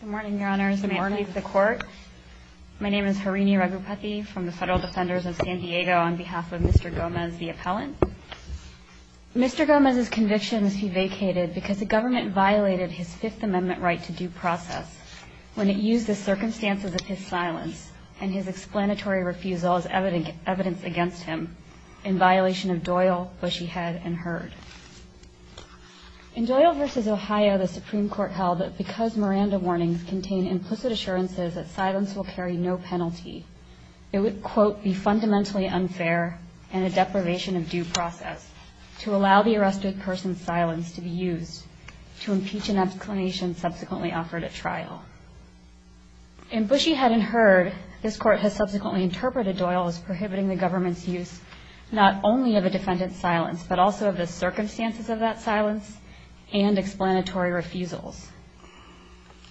Good morning, your honors. Good morning to the court. My name is Harini Raghupathy from the Federal Defenders of San Diego on behalf of Mr. Gomez, the appellant. Mr. Gomez's conviction must be vacated because the government violated his Fifth Amendment right to due process when it used the circumstances of his silence and his explanatory refusal as evidence against him in violation of Doyle, Bushy Head, and Heard. In Doyle v. Ohio, the Supreme Court held that because Miranda warnings contain implicit assurances that silence will carry no penalty, it would, quote, be fundamentally unfair and a deprivation of due process to allow the arrested person's silence to be used to impeach an exclamation subsequently offered at trial. In Bushy Head and Heard, this court has subsequently interpreted Doyle as prohibiting the government's use not only of a defendant's silence, but also of the circumstances of that silence and explanatory refusals.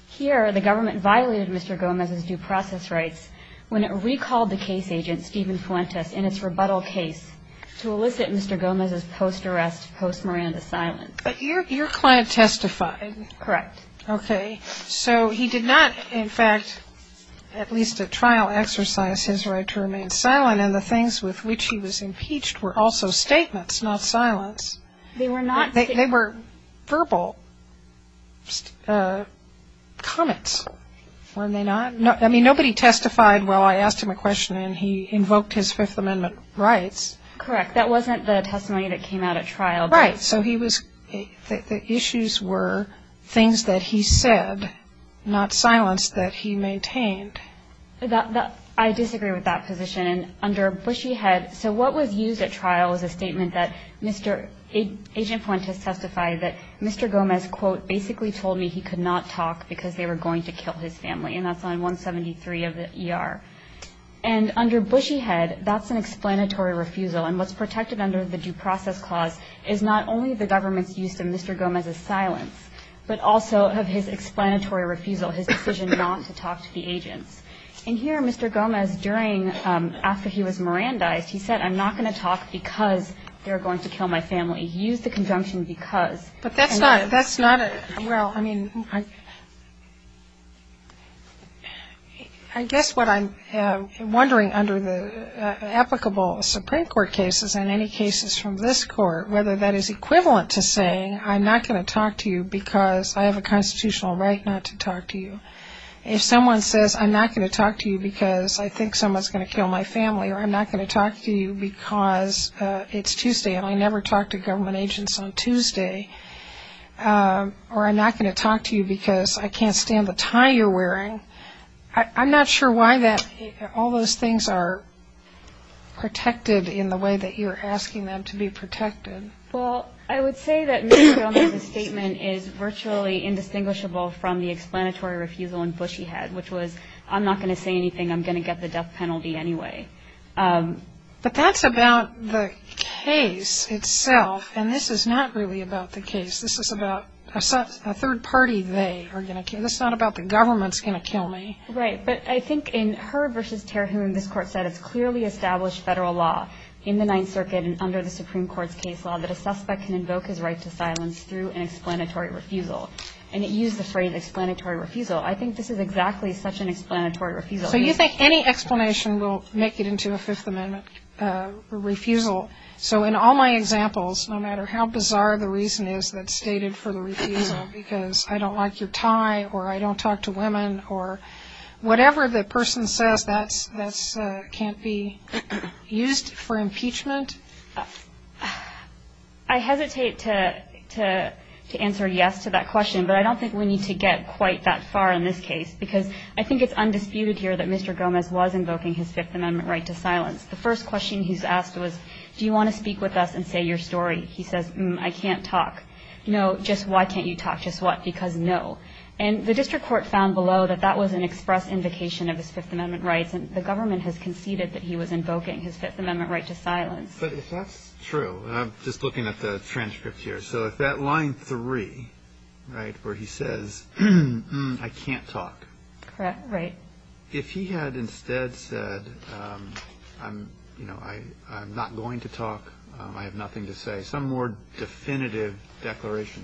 Here, the government violated Mr. Gomez's due process rights when it recalled the case agent, Stephen Fuentes, in its rebuttal case to elicit Mr. Gomez's post-arrest, post-Miranda silence. But your client testified. Correct. Okay. So he did not, in fact, at least at trial, exercise his right to remain silent, and the things with which he was impeached were also statements, not silence. They were not. They were verbal comments, weren't they not? I mean, nobody testified while I asked him a question, and he invoked his Fifth Amendment rights. Correct. That wasn't the testimony that came out at trial. Right. And so the issues were things that he said, not silence, that he maintained. I disagree with that position. Under Bushy Head, so what was used at trial was a statement that Agent Fuentes testified that Mr. Gomez, quote, basically told me he could not talk because they were going to kill his family, and that's on 173 of the ER. And under Bushy Head, that's an explanatory refusal. And what's protected under the Due Process Clause is not only the government's use of Mr. Gomez's silence, but also of his explanatory refusal, his decision not to talk to the agents. And here, Mr. Gomez, during, after he was Mirandized, he said, I'm not going to talk because they're going to kill my family. He used the conjunction because. But that's not a, well, I mean, I guess what I'm wondering under the applicable Supreme Court cases and any cases from this court, whether that is equivalent to saying, I'm not going to talk to you because I have a constitutional right not to talk to you. If someone says, I'm not going to talk to you because I think someone's going to kill my family, or I'm not going to talk to you because it's Tuesday and I never talk to government agents on Tuesday, or I'm not going to talk to you because I can't stand the tie you're wearing, I'm not sure why that, all those things are protected in the way that you're asking them to be protected. Well, I would say that Mr. Gomez's statement is virtually indistinguishable from the explanatory refusal in Bushy Head, which was, I'm not going to say anything. I'm going to get the death penalty anyway. But that's about the case itself, and this is not really about the case. This is about a third party they are going to kill. This is not about the government's going to kill me. Right. But I think in Herb v. Terhune, this court said, it's clearly established federal law in the Ninth Circuit and under the Supreme Court's case law that a suspect can invoke his right to silence through an explanatory refusal. And it used the phrase explanatory refusal. I think this is exactly such an explanatory refusal. So you think any explanation will make it into a Fifth Amendment refusal? So in all my examples, no matter how bizarre the reason is that's stated for the refusal, because I don't like your tie, or I don't talk to women, or whatever the person says that can't be used for impeachment? I hesitate to answer yes to that question, but I don't think we need to get quite that far in this case, because I think it's undisputed here that Mr. Gomez was invoking his Fifth Amendment right to silence. The first question he was asked was, do you want to speak with us and say your story? He says, I can't talk. No, just why can't you talk? Just what? Because no. And the district court found below that that was an express invocation of his Fifth Amendment rights, and the government has conceded that he was invoking his Fifth Amendment right to silence. But if that's true, and I'm just looking at the transcript here, so if that line three, right, where he says, I can't talk, if he had instead said, I'm not going to talk, I have nothing to say, some more definitive declaration,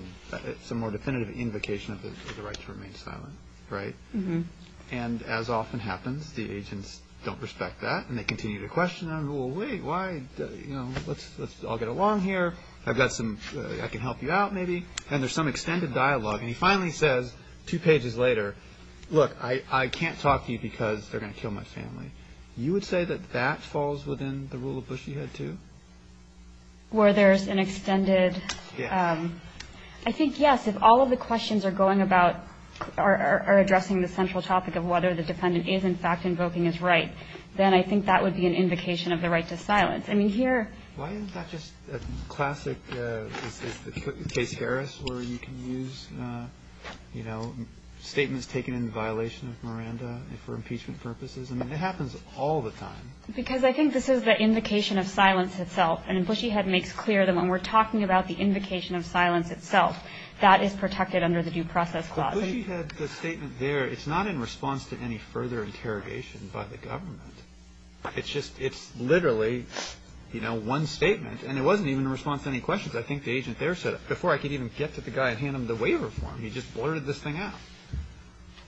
some more definitive invocation of the right to remain silent, right? And as often happens, the agents don't respect that, and they continue to question him. Well, wait, why? You know, let's all get along here. I've got some ‑‑ I can help you out maybe. And there's some extended dialogue. And he finally says two pages later, look, I can't talk to you because they're going to kill my family. You would say that that falls within the rule of bushy head too? Where there's an extended ‑‑ I think, yes, if all of the questions are addressing the central topic of whether the defendant is, in fact, invoking his right, then I think that would be an invocation of the right to silence. I mean, here ‑‑ Why is that just a classic case where you can use, you know, statements taken in violation of Miranda for impeachment purposes? I mean, it happens all the time. Because I think this is the invocation of silence itself. And bushy head makes clear that when we're talking about the invocation of silence itself, that is protected under the due process clause. But bushy head, the statement there, it's not in response to any further interrogation by the government. It's just ‑‑ it's literally, you know, one statement. And it wasn't even in response to any questions. I think the agent there said, before I could even get to the guy and hand him the waiver form, he just blurted this thing out.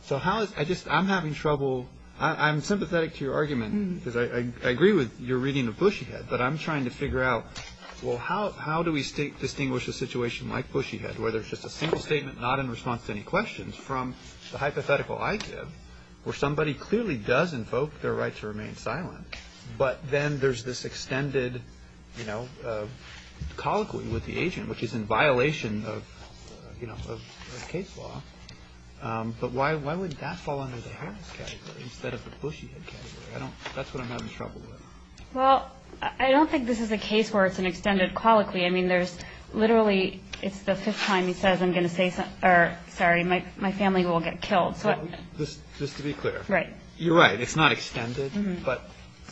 So how is ‑‑ I just ‑‑ I'm having trouble. I'm sympathetic to your argument because I agree with your reading of bushy head. But I'm trying to figure out, well, how do we distinguish a situation like bushy head? Where there's just a single statement, not in response to any questions, from the hypothetical ITIV where somebody clearly does invoke their right to remain silent. But then there's this extended, you know, colloquy with the agent, which is in violation of, you know, of case law. But why would that fall under the Harris category instead of the bushy head category? I don't ‑‑ that's what I'm having trouble with. Well, I don't think this is a case where it's an extended colloquy. I mean, there's literally ‑‑ it's the fifth time he says I'm going to say ‑‑ or, sorry, my family will get killed. So ‑‑ Just to be clear. Right. You're right. It's not extended. But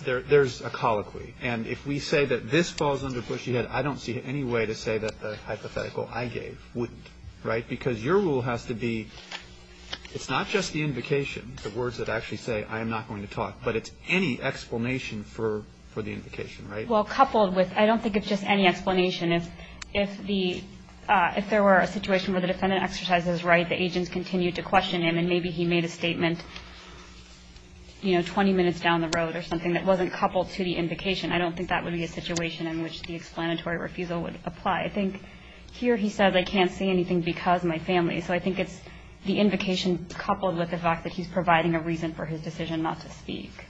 there's a colloquy. And if we say that this falls under bushy head, I don't see any way to say that the hypothetical I gave wouldn't. Right? Because your rule has to be it's not just the invocation, the words that actually say I am not going to talk, but it's any explanation for the invocation. Right? Well, coupled with ‑‑ I don't think it's just any explanation. If the ‑‑ if there were a situation where the defendant exercised his right, the agents continued to question him, and maybe he made a statement, you know, 20 minutes down the road or something that wasn't coupled to the invocation, I don't think that would be a situation in which the explanatory refusal would apply. I think here he says I can't say anything because my family. So I think it's the invocation coupled with the fact that he's providing a reason for his decision not to speak. Okay.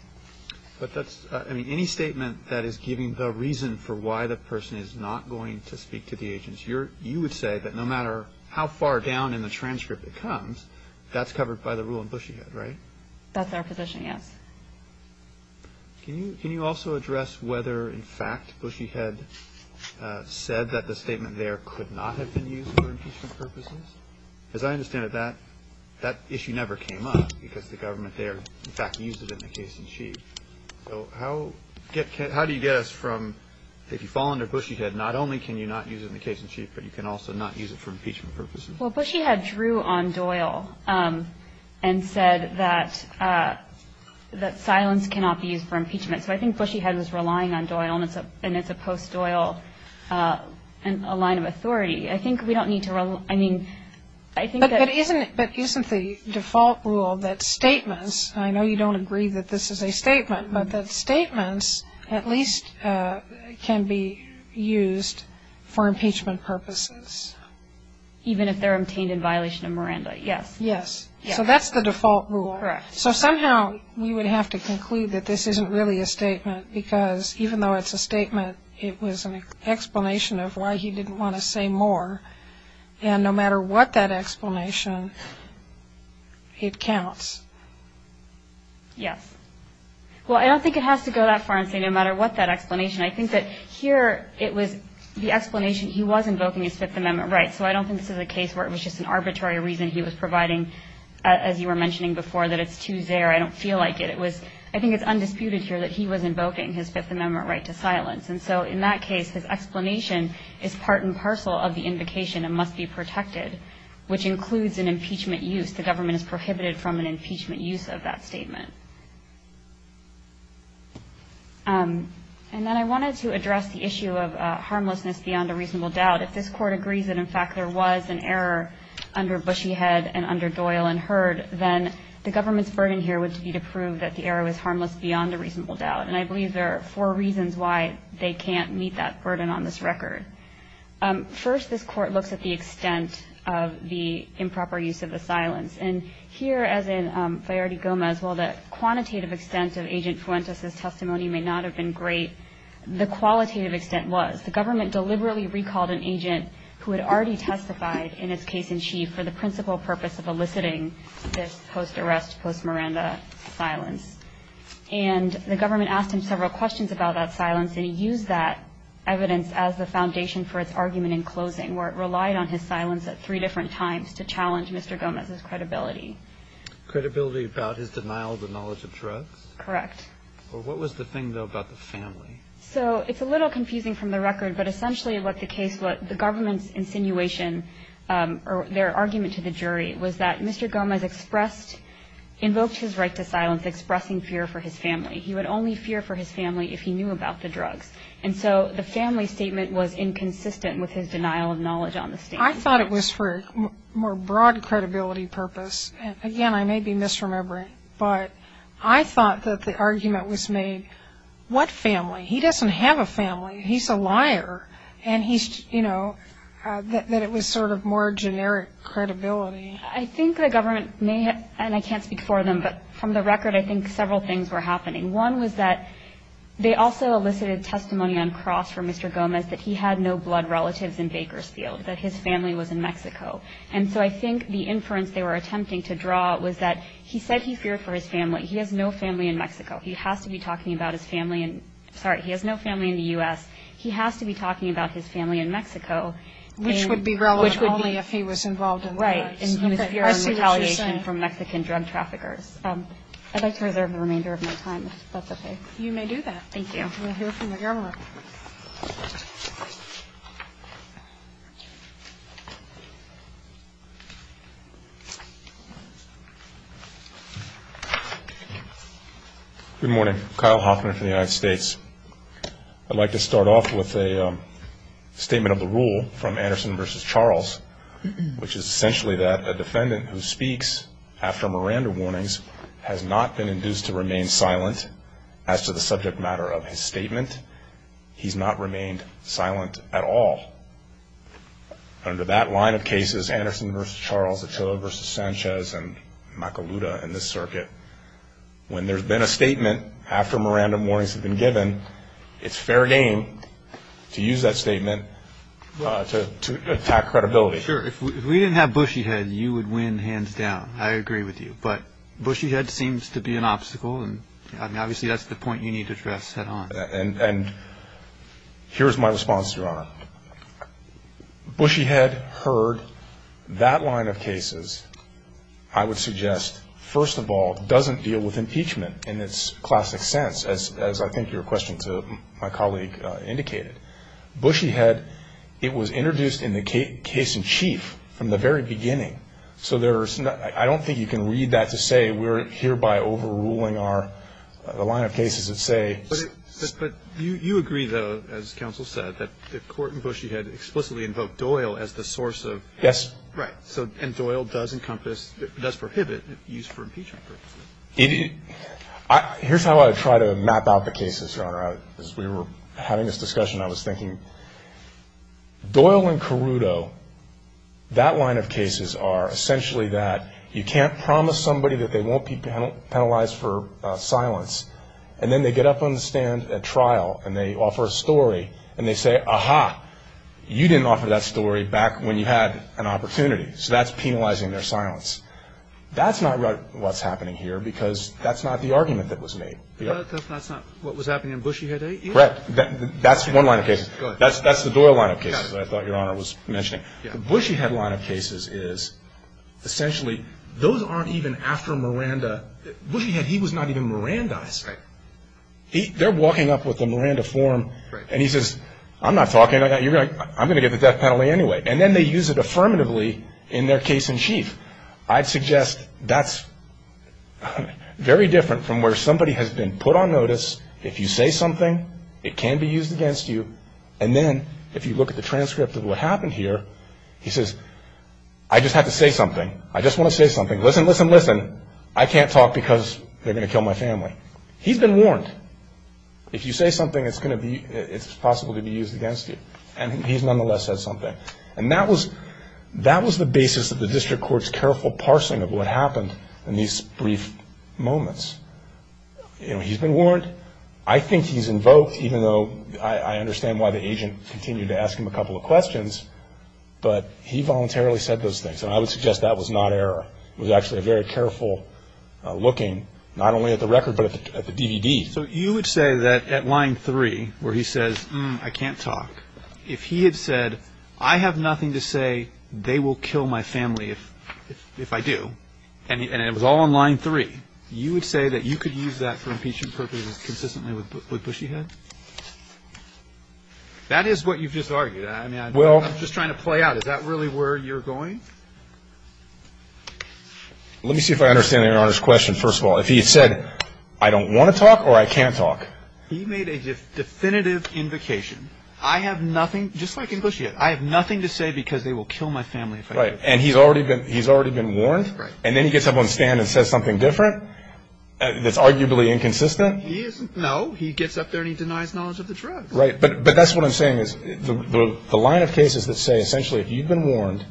But that's ‑‑ I mean, any statement that is giving the reason for why the person is not going to speak to the agents, you would say that no matter how far down in the transcript it comes, that's covered by the rule in bushy head, right? That's our position, yes. Can you also address whether, in fact, bushy head said that the statement there could not have been used for impeachment purposes? As I understand it, that issue never came up because the government there, in fact, used it in the case in chief. So how do you get us from if you fall under bushy head, not only can you not use it in the case in chief, but you can also not use it for impeachment purposes? Well, bushy head drew on Doyle and said that silence cannot be used for impeachment. So I think bushy head was relying on Doyle, and it's a post‑Doyle line of authority. I think we don't need to ‑‑ I mean, I think that ‑‑ But isn't the default rule that statements, I know you don't agree that this is a statement, but that statements at least can be used for impeachment purposes? Even if they're obtained in violation of Miranda, yes. Yes. Yes. So that's the default rule. Correct. So somehow we would have to conclude that this isn't really a statement, because even though it's a statement, it was an explanation of why he didn't want to say more. And no matter what that explanation, it counts. Yes. Well, I don't think it has to go that far and say no matter what that explanation. I think that here it was the explanation he was invoking his Fifth Amendment rights. So I don't think this is a case where it was just an arbitrary reason he was providing, as you were mentioning before, that it's too zare. I don't feel like it. I think it's undisputed here that he was invoking his Fifth Amendment right to silence. And so in that case, his explanation is part and parcel of the invocation and must be protected, which includes an impeachment use. The government is prohibited from an impeachment use of that statement. And then I wanted to address the issue of harmlessness beyond a reasonable doubt. If this Court agrees that, in fact, there was an error under Bushyhead and under Doyle and Hurd, then the government's burden here would be to prove that the error was harmless beyond a reasonable doubt. And I believe there are four reasons why they can't meet that burden on this record. First, this Court looks at the extent of the improper use of the silence. And here, as in Fiority Gomez, while the quantitative extent of Agent Fuentes' testimony may not have been great, the qualitative extent was the government deliberately recalled an agent who had already testified, in his case in chief, for the principal purpose of eliciting this post-arrest, post-Miranda silence. And the government asked him several questions about that silence, and he used that evidence as the foundation for its argument in closing, where it relied on his silence at three different times to challenge Mr. Gomez's credibility. Credibility about his denial of the knowledge of drugs? Correct. Or what was the thing, though, about the family? So it's a little confusing from the record, but essentially what the government's insinuation, or their argument to the jury, was that Mr. Gomez expressed, invoked his right to silence expressing fear for his family. He would only fear for his family if he knew about the drugs. And so the family statement was inconsistent with his denial of knowledge on the statement. I thought it was for a more broad credibility purpose. Again, I may be misremembering, but I thought that the argument was made, what family? He doesn't have a family. He's a liar. And he's, you know, that it was sort of more generic credibility. I think the government may have, and I can't speak for them, but from the record I think several things were happening. One was that they also elicited testimony on cross for Mr. Gomez that he had no blood relatives in Bakersfield, that his family was in Mexico. And so I think the inference they were attempting to draw was that he said he feared for his family. He has no family in Mexico. He has to be talking about his family. Sorry, he has no family in the U.S. He has to be talking about his family in Mexico. Which would be relevant only if he was involved in the drugs. Right. And he was fearing retaliation from Mexican drug traffickers. I'd like to reserve the remainder of my time, if that's okay. You may do that. Thank you. We'll hear from the government. Good morning. Kyle Hoffman from the United States. I'd like to start off with a statement of the rule from Anderson v. Charles, which is essentially that a defendant who speaks after Miranda warnings has not been induced to remain silent as to the subject matter of his statement. He's not remained silent at all. Under that line of cases, Anderson v. Charles, Achillo v. Sanchez, and Macaluda in this circuit, when there's been a statement after Miranda warnings have been given, it's fair game to use that statement to attack credibility. Sure. If we didn't have Bushyhead, you would win hands down. I agree with you. But Bushyhead seems to be an obstacle, and obviously that's the point you need to address head on. And here's my response, Your Honor. Bushyhead heard that line of cases, I would suggest, first of all, doesn't deal with impeachment in its classic sense, as I think your question to my colleague indicated. Bushyhead, it was introduced in the case in chief from the very beginning, so I don't think you can read that to say we're hereby overruling the line of cases that say. But you agree, though, as counsel said, that the court in Bushyhead explicitly invoked Doyle as the source of. Yes. Right. And Doyle does encompass, does prohibit use for impeachment purposes. Here's how I try to map out the cases, Your Honor. As we were having this discussion, I was thinking Doyle and Carruto, that line of cases are essentially that you can't promise somebody that they won't be penalized for silence, and then they get up on the stand at trial and they offer a story and they say, aha, you didn't offer that story back when you had an opportunity. So that's penalizing their silence. That's not what's happening here because that's not the argument that was made. That's not what was happening in Bushyhead, either? Correct. That's one line of cases. Go ahead. That's the Doyle line of cases that I thought Your Honor was mentioning. Yeah. The Bushyhead line of cases is essentially those aren't even after Miranda. Bushyhead, he was not even Mirandized. Right. They're walking up with a Miranda form. Right. And he says, I'm not talking about that. I'm going to get the death penalty anyway. And then they use it affirmatively in their case in chief. I'd suggest that's very different from where somebody has been put on notice. If you say something, it can be used against you. And then if you look at the transcript of what happened here, he says, I just have to say something. I just want to say something. Listen, listen, listen. I can't talk because they're going to kill my family. He's been warned. If you say something, it's possible to be used against you. And he's nonetheless said something. And that was the basis of the district court's careful parsing of what happened in these brief moments. You know, he's been warned. I think he's invoked, even though I understand why the agent continued to ask him a couple of questions. But he voluntarily said those things. And I would suggest that was not error. It was actually a very careful looking, not only at the record, but at the DVD. So you would say that at line three, where he says, I can't talk. If he had said, I have nothing to say. They will kill my family if I do. And it was all on line three. You would say that you could use that for impeachment purposes consistently with Bushyhead. That is what you've just argued. Well, I'm just trying to play out. Is that really where you're going? Let me see if I understand your Honor's question, first of all. If he had said, I don't want to talk or I can't talk. He made a definitive invocation. I have nothing, just like in Bushyhead, I have nothing to say because they will kill my family if I do. Right. And he's already been warned? Right. And then he gets up on the stand and says something different that's arguably inconsistent? No. He gets up there and he denies knowledge of the drug. Right. But that's what I'm saying is the line of cases that say essentially if you've been warned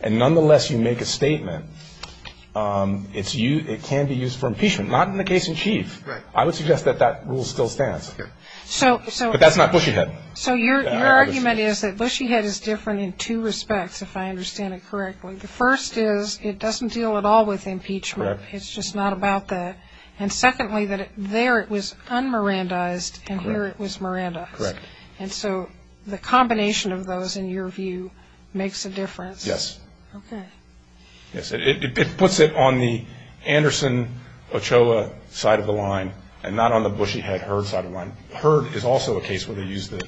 and nonetheless you make a statement, it can be used for impeachment. Not in the case in chief. Right. I would suggest that that rule still stands. But that's not Bushyhead. So your argument is that Bushyhead is different in two respects, if I understand it correctly. The first is it doesn't deal at all with impeachment. Correct. It's just not about that. And secondly, that there it was un-Mirandized and here it was Mirandized. Correct. And so the combination of those, in your view, makes a difference. Yes. Okay. Yes. It puts it on the Anderson-Ochoa side of the line and not on the Bushyhead-Herd side of the line. Herd is also a case where they use the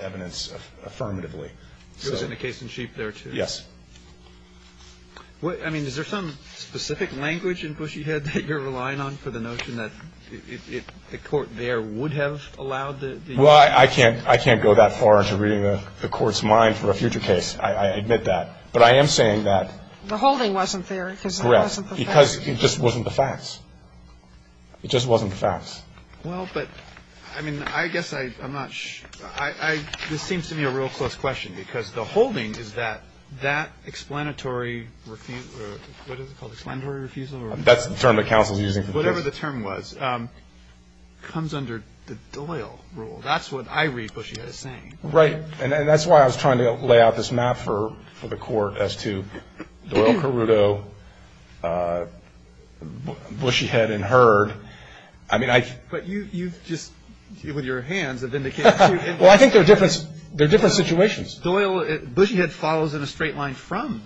evidence affirmatively. It was in the case in chief there too? Yes. I mean, is there some specific language in Bushyhead that you're relying on for the notion that the court there would have allowed the? Well, I can't go that far into reading the court's mind for a future case. I admit that. But I am saying that. The holding wasn't there because it wasn't the facts. Correct. Because it just wasn't the facts. It just wasn't the facts. Well, but, I mean, I guess I'm not sure. This seems to me a real close question because the holding is that that explanatory refusal, what is it called, explanatory refusal? That's the term the counsel is using. Whatever the term was. It comes under the Doyle rule. That's what I read Bushyhead as saying. Right. And that's why I was trying to lay out this map for the court as to Doyle, Carrudo, Bushyhead, and Herd. But you've just, with your hands, vindicated two individuals. Well, I think they're different situations. Doyle, Bushyhead follows in a straight line from,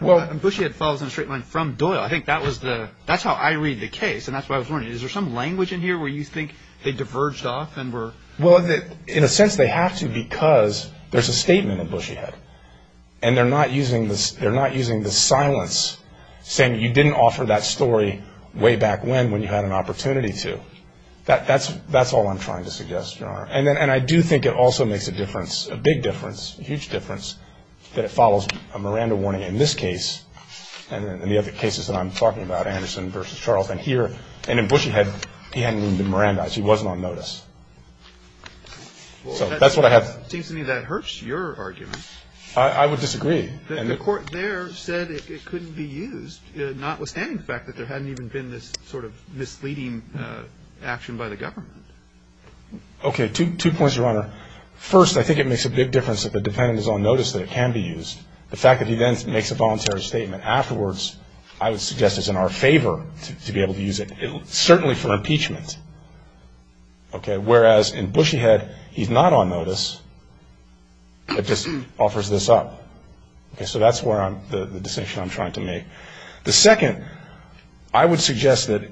Bushyhead follows in a straight line from Doyle. I think that was the, that's how I read the case. And that's why I was wondering, is there some language in here where you think they diverged off and were? Well, in a sense they have to because there's a statement in Bushyhead. And they're not using the silence saying you didn't offer that story way back when, when you had an opportunity to. That's all I'm trying to suggest, Your Honor. And I do think it also makes a difference, a big difference, a huge difference, that it follows a Miranda warning in this case and in the other cases that I'm talking about, Anderson versus Charles. And here, and in Bushyhead, he hadn't even been Mirandized. He wasn't on notice. So that's what I have. It seems to me that hurts your argument. I would disagree. The court there said it couldn't be used, notwithstanding the fact that there hadn't even been this sort of misleading action by the government. Okay. Two points, Your Honor. First, I think it makes a big difference that the defendant is on notice that it can be used. The fact that he then makes a voluntary statement afterwards I would suggest is in our favor to be able to use it, certainly for impeachment. Okay. Whereas, in Bushyhead, he's not on notice. It just offers this up. Okay. So that's the decision I'm trying to make. The second, I would suggest that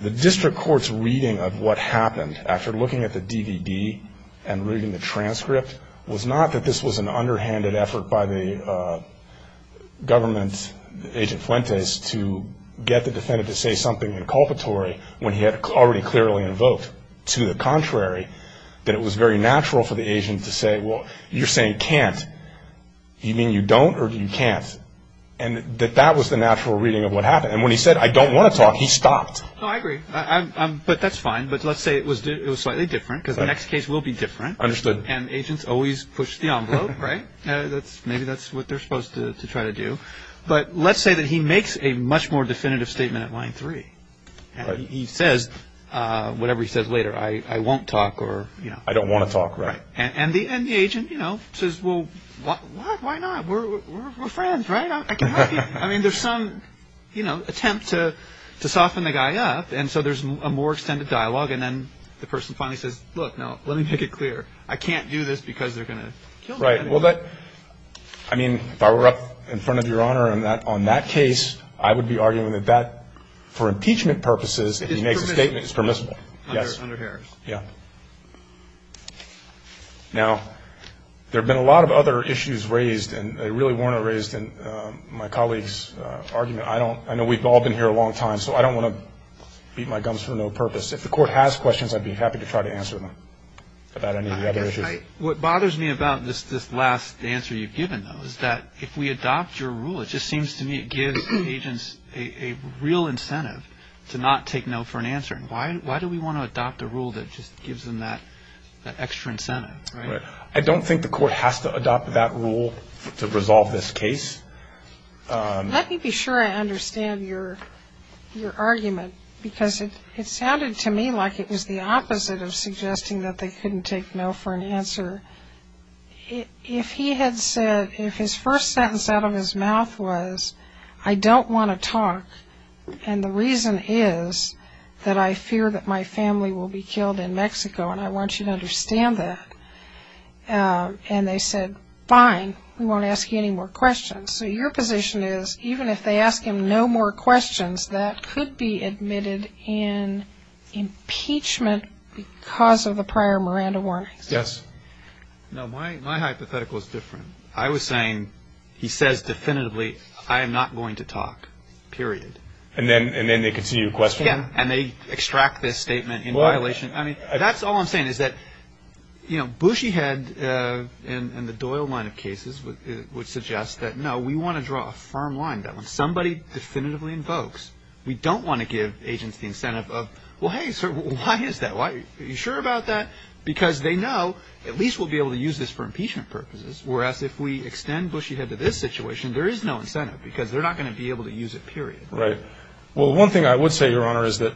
the district court's reading of what happened after looking at the DVD and reading the transcript was not that this was an underhanded effort by the government agent Fuentes to get the defendant to say something inculpatory when he had already clearly invoked to the contrary that it was very natural for the agent to say, well, you're saying can't. Do you mean you don't or you can't? And that that was the natural reading of what happened. And when he said, I don't want to talk, he stopped. Oh, I agree. But that's fine. But let's say it was slightly different because the next case will be different. Understood. And agents always push the envelope, right? Maybe that's what they're supposed to try to do. But let's say that he makes a much more definitive statement at line three. He says, whatever he says later, I won't talk or, you know. I don't want to talk. Right. And the agent, you know, says, well, what? Why not? We're friends, right? I can help you. I mean, there's some, you know, attempt to soften the guy up. And so there's a more extended dialogue. And then the person finally says, look, no, let me make it clear. I can't do this because they're going to kill me. Right. Well, that, I mean, if I were up in front of Your Honor on that case, I would be arguing that that, for impeachment purposes, if he makes a statement is permissible. Under Harris. Yeah. Now, there have been a lot of other issues raised, and they really weren't raised in my colleague's argument. I know we've all been here a long time, so I don't want to beat my gums for no purpose. If the Court has questions, I'd be happy to try to answer them about any of the other issues. What bothers me about this last answer you've given, though, is that if we adopt your rule, it just seems to me it gives agents a real incentive to not take no for an answer. Why do we want to adopt a rule that just gives them that extra incentive, right? I don't think the Court has to adopt that rule to resolve this case. Let me be sure I understand your argument, because it sounded to me like it was the opposite of suggesting that they couldn't take no for an answer. If he had said, if his first sentence out of his mouth was, I don't want to talk, and the reason is that I fear that my family will be killed in Mexico, and I want you to understand that, and they said, fine, we won't ask you any more questions. So your position is, even if they ask him no more questions, that could be admitted in impeachment because of the prior Miranda warnings? Yes. No, my hypothetical is different. I was saying he says definitively, I am not going to talk, period. And then they continue to question him? Yes, and they extract this statement in violation. I mean, that's all I'm saying is that, you know, we want to draw a firm line that when somebody definitively invokes, we don't want to give agents the incentive of, well, hey, sir, why is that? Are you sure about that? Because they know at least we'll be able to use this for impeachment purposes, whereas if we extend bushy head to this situation, there is no incentive because they're not going to be able to use it, period. Right. Well, one thing I would say, Your Honor, is that,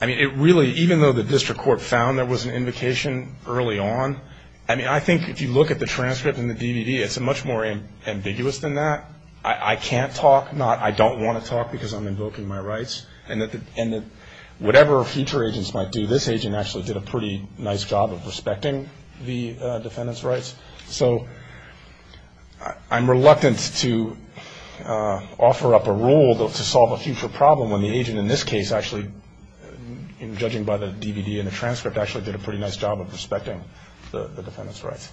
I mean, it really, even though the District Court found there was an invocation early on, I mean, I think if you look at the transcript and the DVD, it's much more ambiguous than that. I can't talk, not I don't want to talk because I'm invoking my rights, and that whatever future agents might do, this agent actually did a pretty nice job of respecting the defendant's rights. So I'm reluctant to offer up a rule to solve a future problem when the agent, actually, did a pretty nice job of respecting the defendant's rights.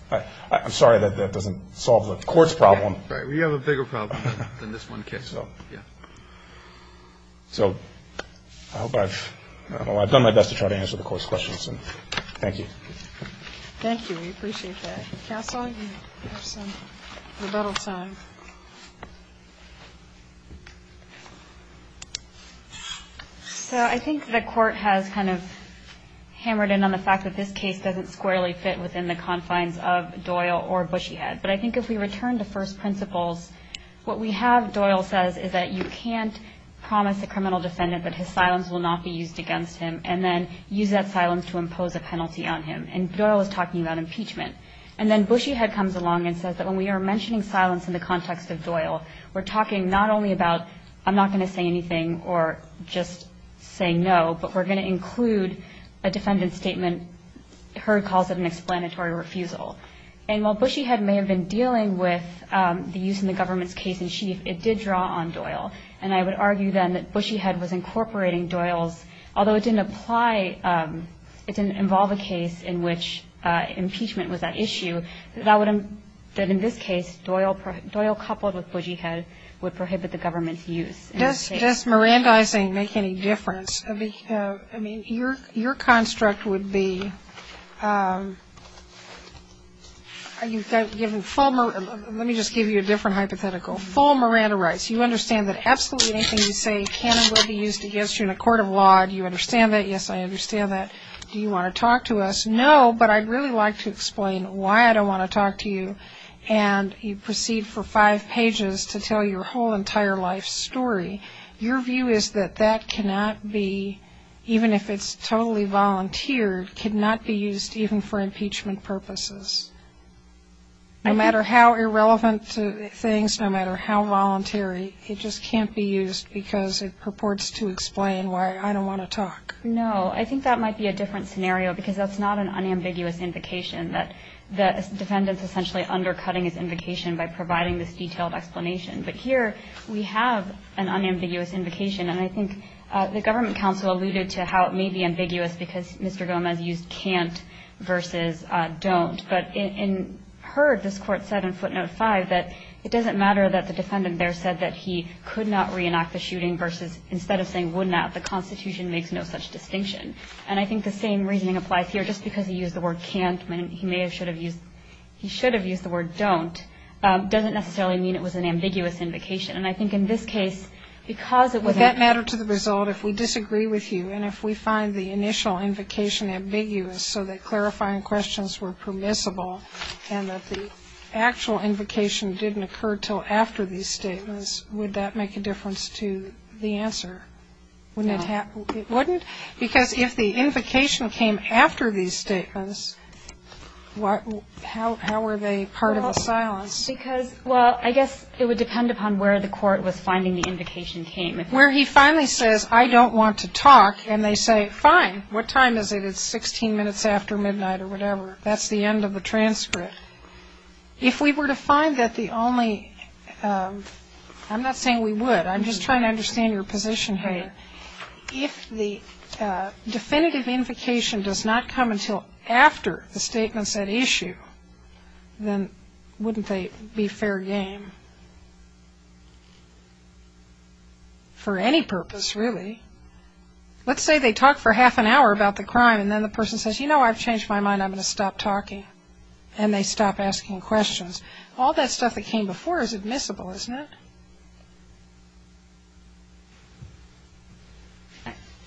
I'm sorry that that doesn't solve the Court's problem. Right. We have a bigger problem than this one case. Yeah. So I hope I've done my best to try to answer the Court's questions, and thank you. Thank you. We appreciate that. Counsel, you have some rebuttal time. So I think the Court has kind of hammered in on the fact that this case doesn't squarely fit within the confines of Doyle or Bushyhead, but I think if we return to first principles, what we have, Doyle says, is that you can't promise a criminal defendant that his silence will not be used against him and then use that silence to impose a penalty on him, and Doyle is talking about impeachment. And then Bushyhead comes along and says that when we are mentioning silence in the context of Doyle, we're talking not only about, I'm not going to say anything or just say no, but we're going to include a defendant's statement, her calls it an explanatory refusal. And while Bushyhead may have been dealing with the use in the government's case in chief, it did draw on Doyle, and I would argue then that Bushyhead was incorporating Doyle's, although it didn't apply, it didn't involve a case in which impeachment was an issue, that in this case, Doyle coupled with Bushyhead would prohibit the government's use. Kagan. Does Mirandizing make any difference? I mean, your construct would be, let me just give you a different hypothetical. Full Miranda rights. You understand that absolutely anything you say cannot be used against you in a court of law. Do you understand that? Yes, I understand that. Do you want to talk to us? No. No, but I'd really like to explain why I don't want to talk to you, and you proceed for five pages to tell your whole entire life story. Your view is that that cannot be, even if it's totally volunteered, cannot be used even for impeachment purposes. No matter how irrelevant things, no matter how voluntary, it just can't be used because it purports to explain why I don't want to talk. No, I think that might be a different scenario, because that's not an unambiguous invocation that the defendant's essentially undercutting his invocation by providing this detailed explanation. But here we have an unambiguous invocation, and I think the government counsel alluded to how it may be ambiguous because Mr. Gomez used can't versus don't. But in her, this Court said in footnote 5 that it doesn't matter that the defendant there said that he could not reenact the shooting versus instead of saying would that the Constitution makes no such distinction. And I think the same reasoning applies here. Just because he used the word can't, he may have should have used, he should have used the word don't, doesn't necessarily mean it was an ambiguous invocation. And I think in this case, because it wasn't. Would that matter to the result if we disagree with you, and if we find the initial invocation ambiguous, so that clarifying questions were permissible, and that the actual invocation didn't occur until after these statements, would that make a difference to the answer? Wouldn't it happen? It wouldn't? Because if the invocation came after these statements, how were they part of the silence? Well, because, well, I guess it would depend upon where the court was finding the invocation came. Where he finally says I don't want to talk, and they say fine, what time is it? It's 16 minutes after midnight or whatever. That's the end of the transcript. If we were to find that the only, I'm not saying we would. I'm just trying to understand your position here. If the definitive invocation does not come until after the statement said issue, then wouldn't they be fair game? For any purpose, really. Let's say they talk for half an hour about the crime, and then the person says, you know, I've changed my mind. I'm going to stop talking. And they stop asking questions. All that stuff that came before is admissible, isn't it?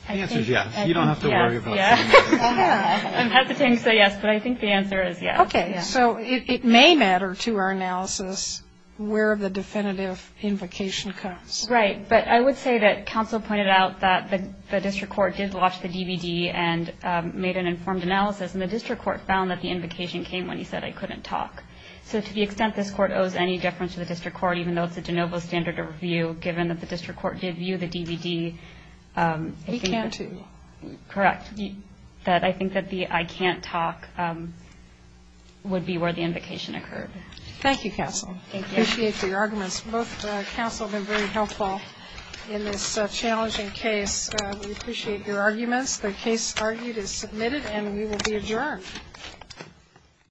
The answer is yes. You don't have to worry about it. I'm hesitating to say yes, but I think the answer is yes. Okay. So it may matter to our analysis where the definitive invocation comes. Right. But I would say that counsel pointed out that the district court did watch the DVD and made an informed analysis. And the district court found that the invocation came when he said I couldn't talk. So to the extent this Court owes any deference to the district court, even though it's a de novo standard of review, given that the district court did view the DVD. He can't, too. Correct. I think that the I can't talk would be where the invocation occurred. Thank you, counsel. Thank you. I appreciate your arguments. Both counsel have been very helpful in this challenging case. We appreciate your arguments. The case argued is submitted and we will be adjourned.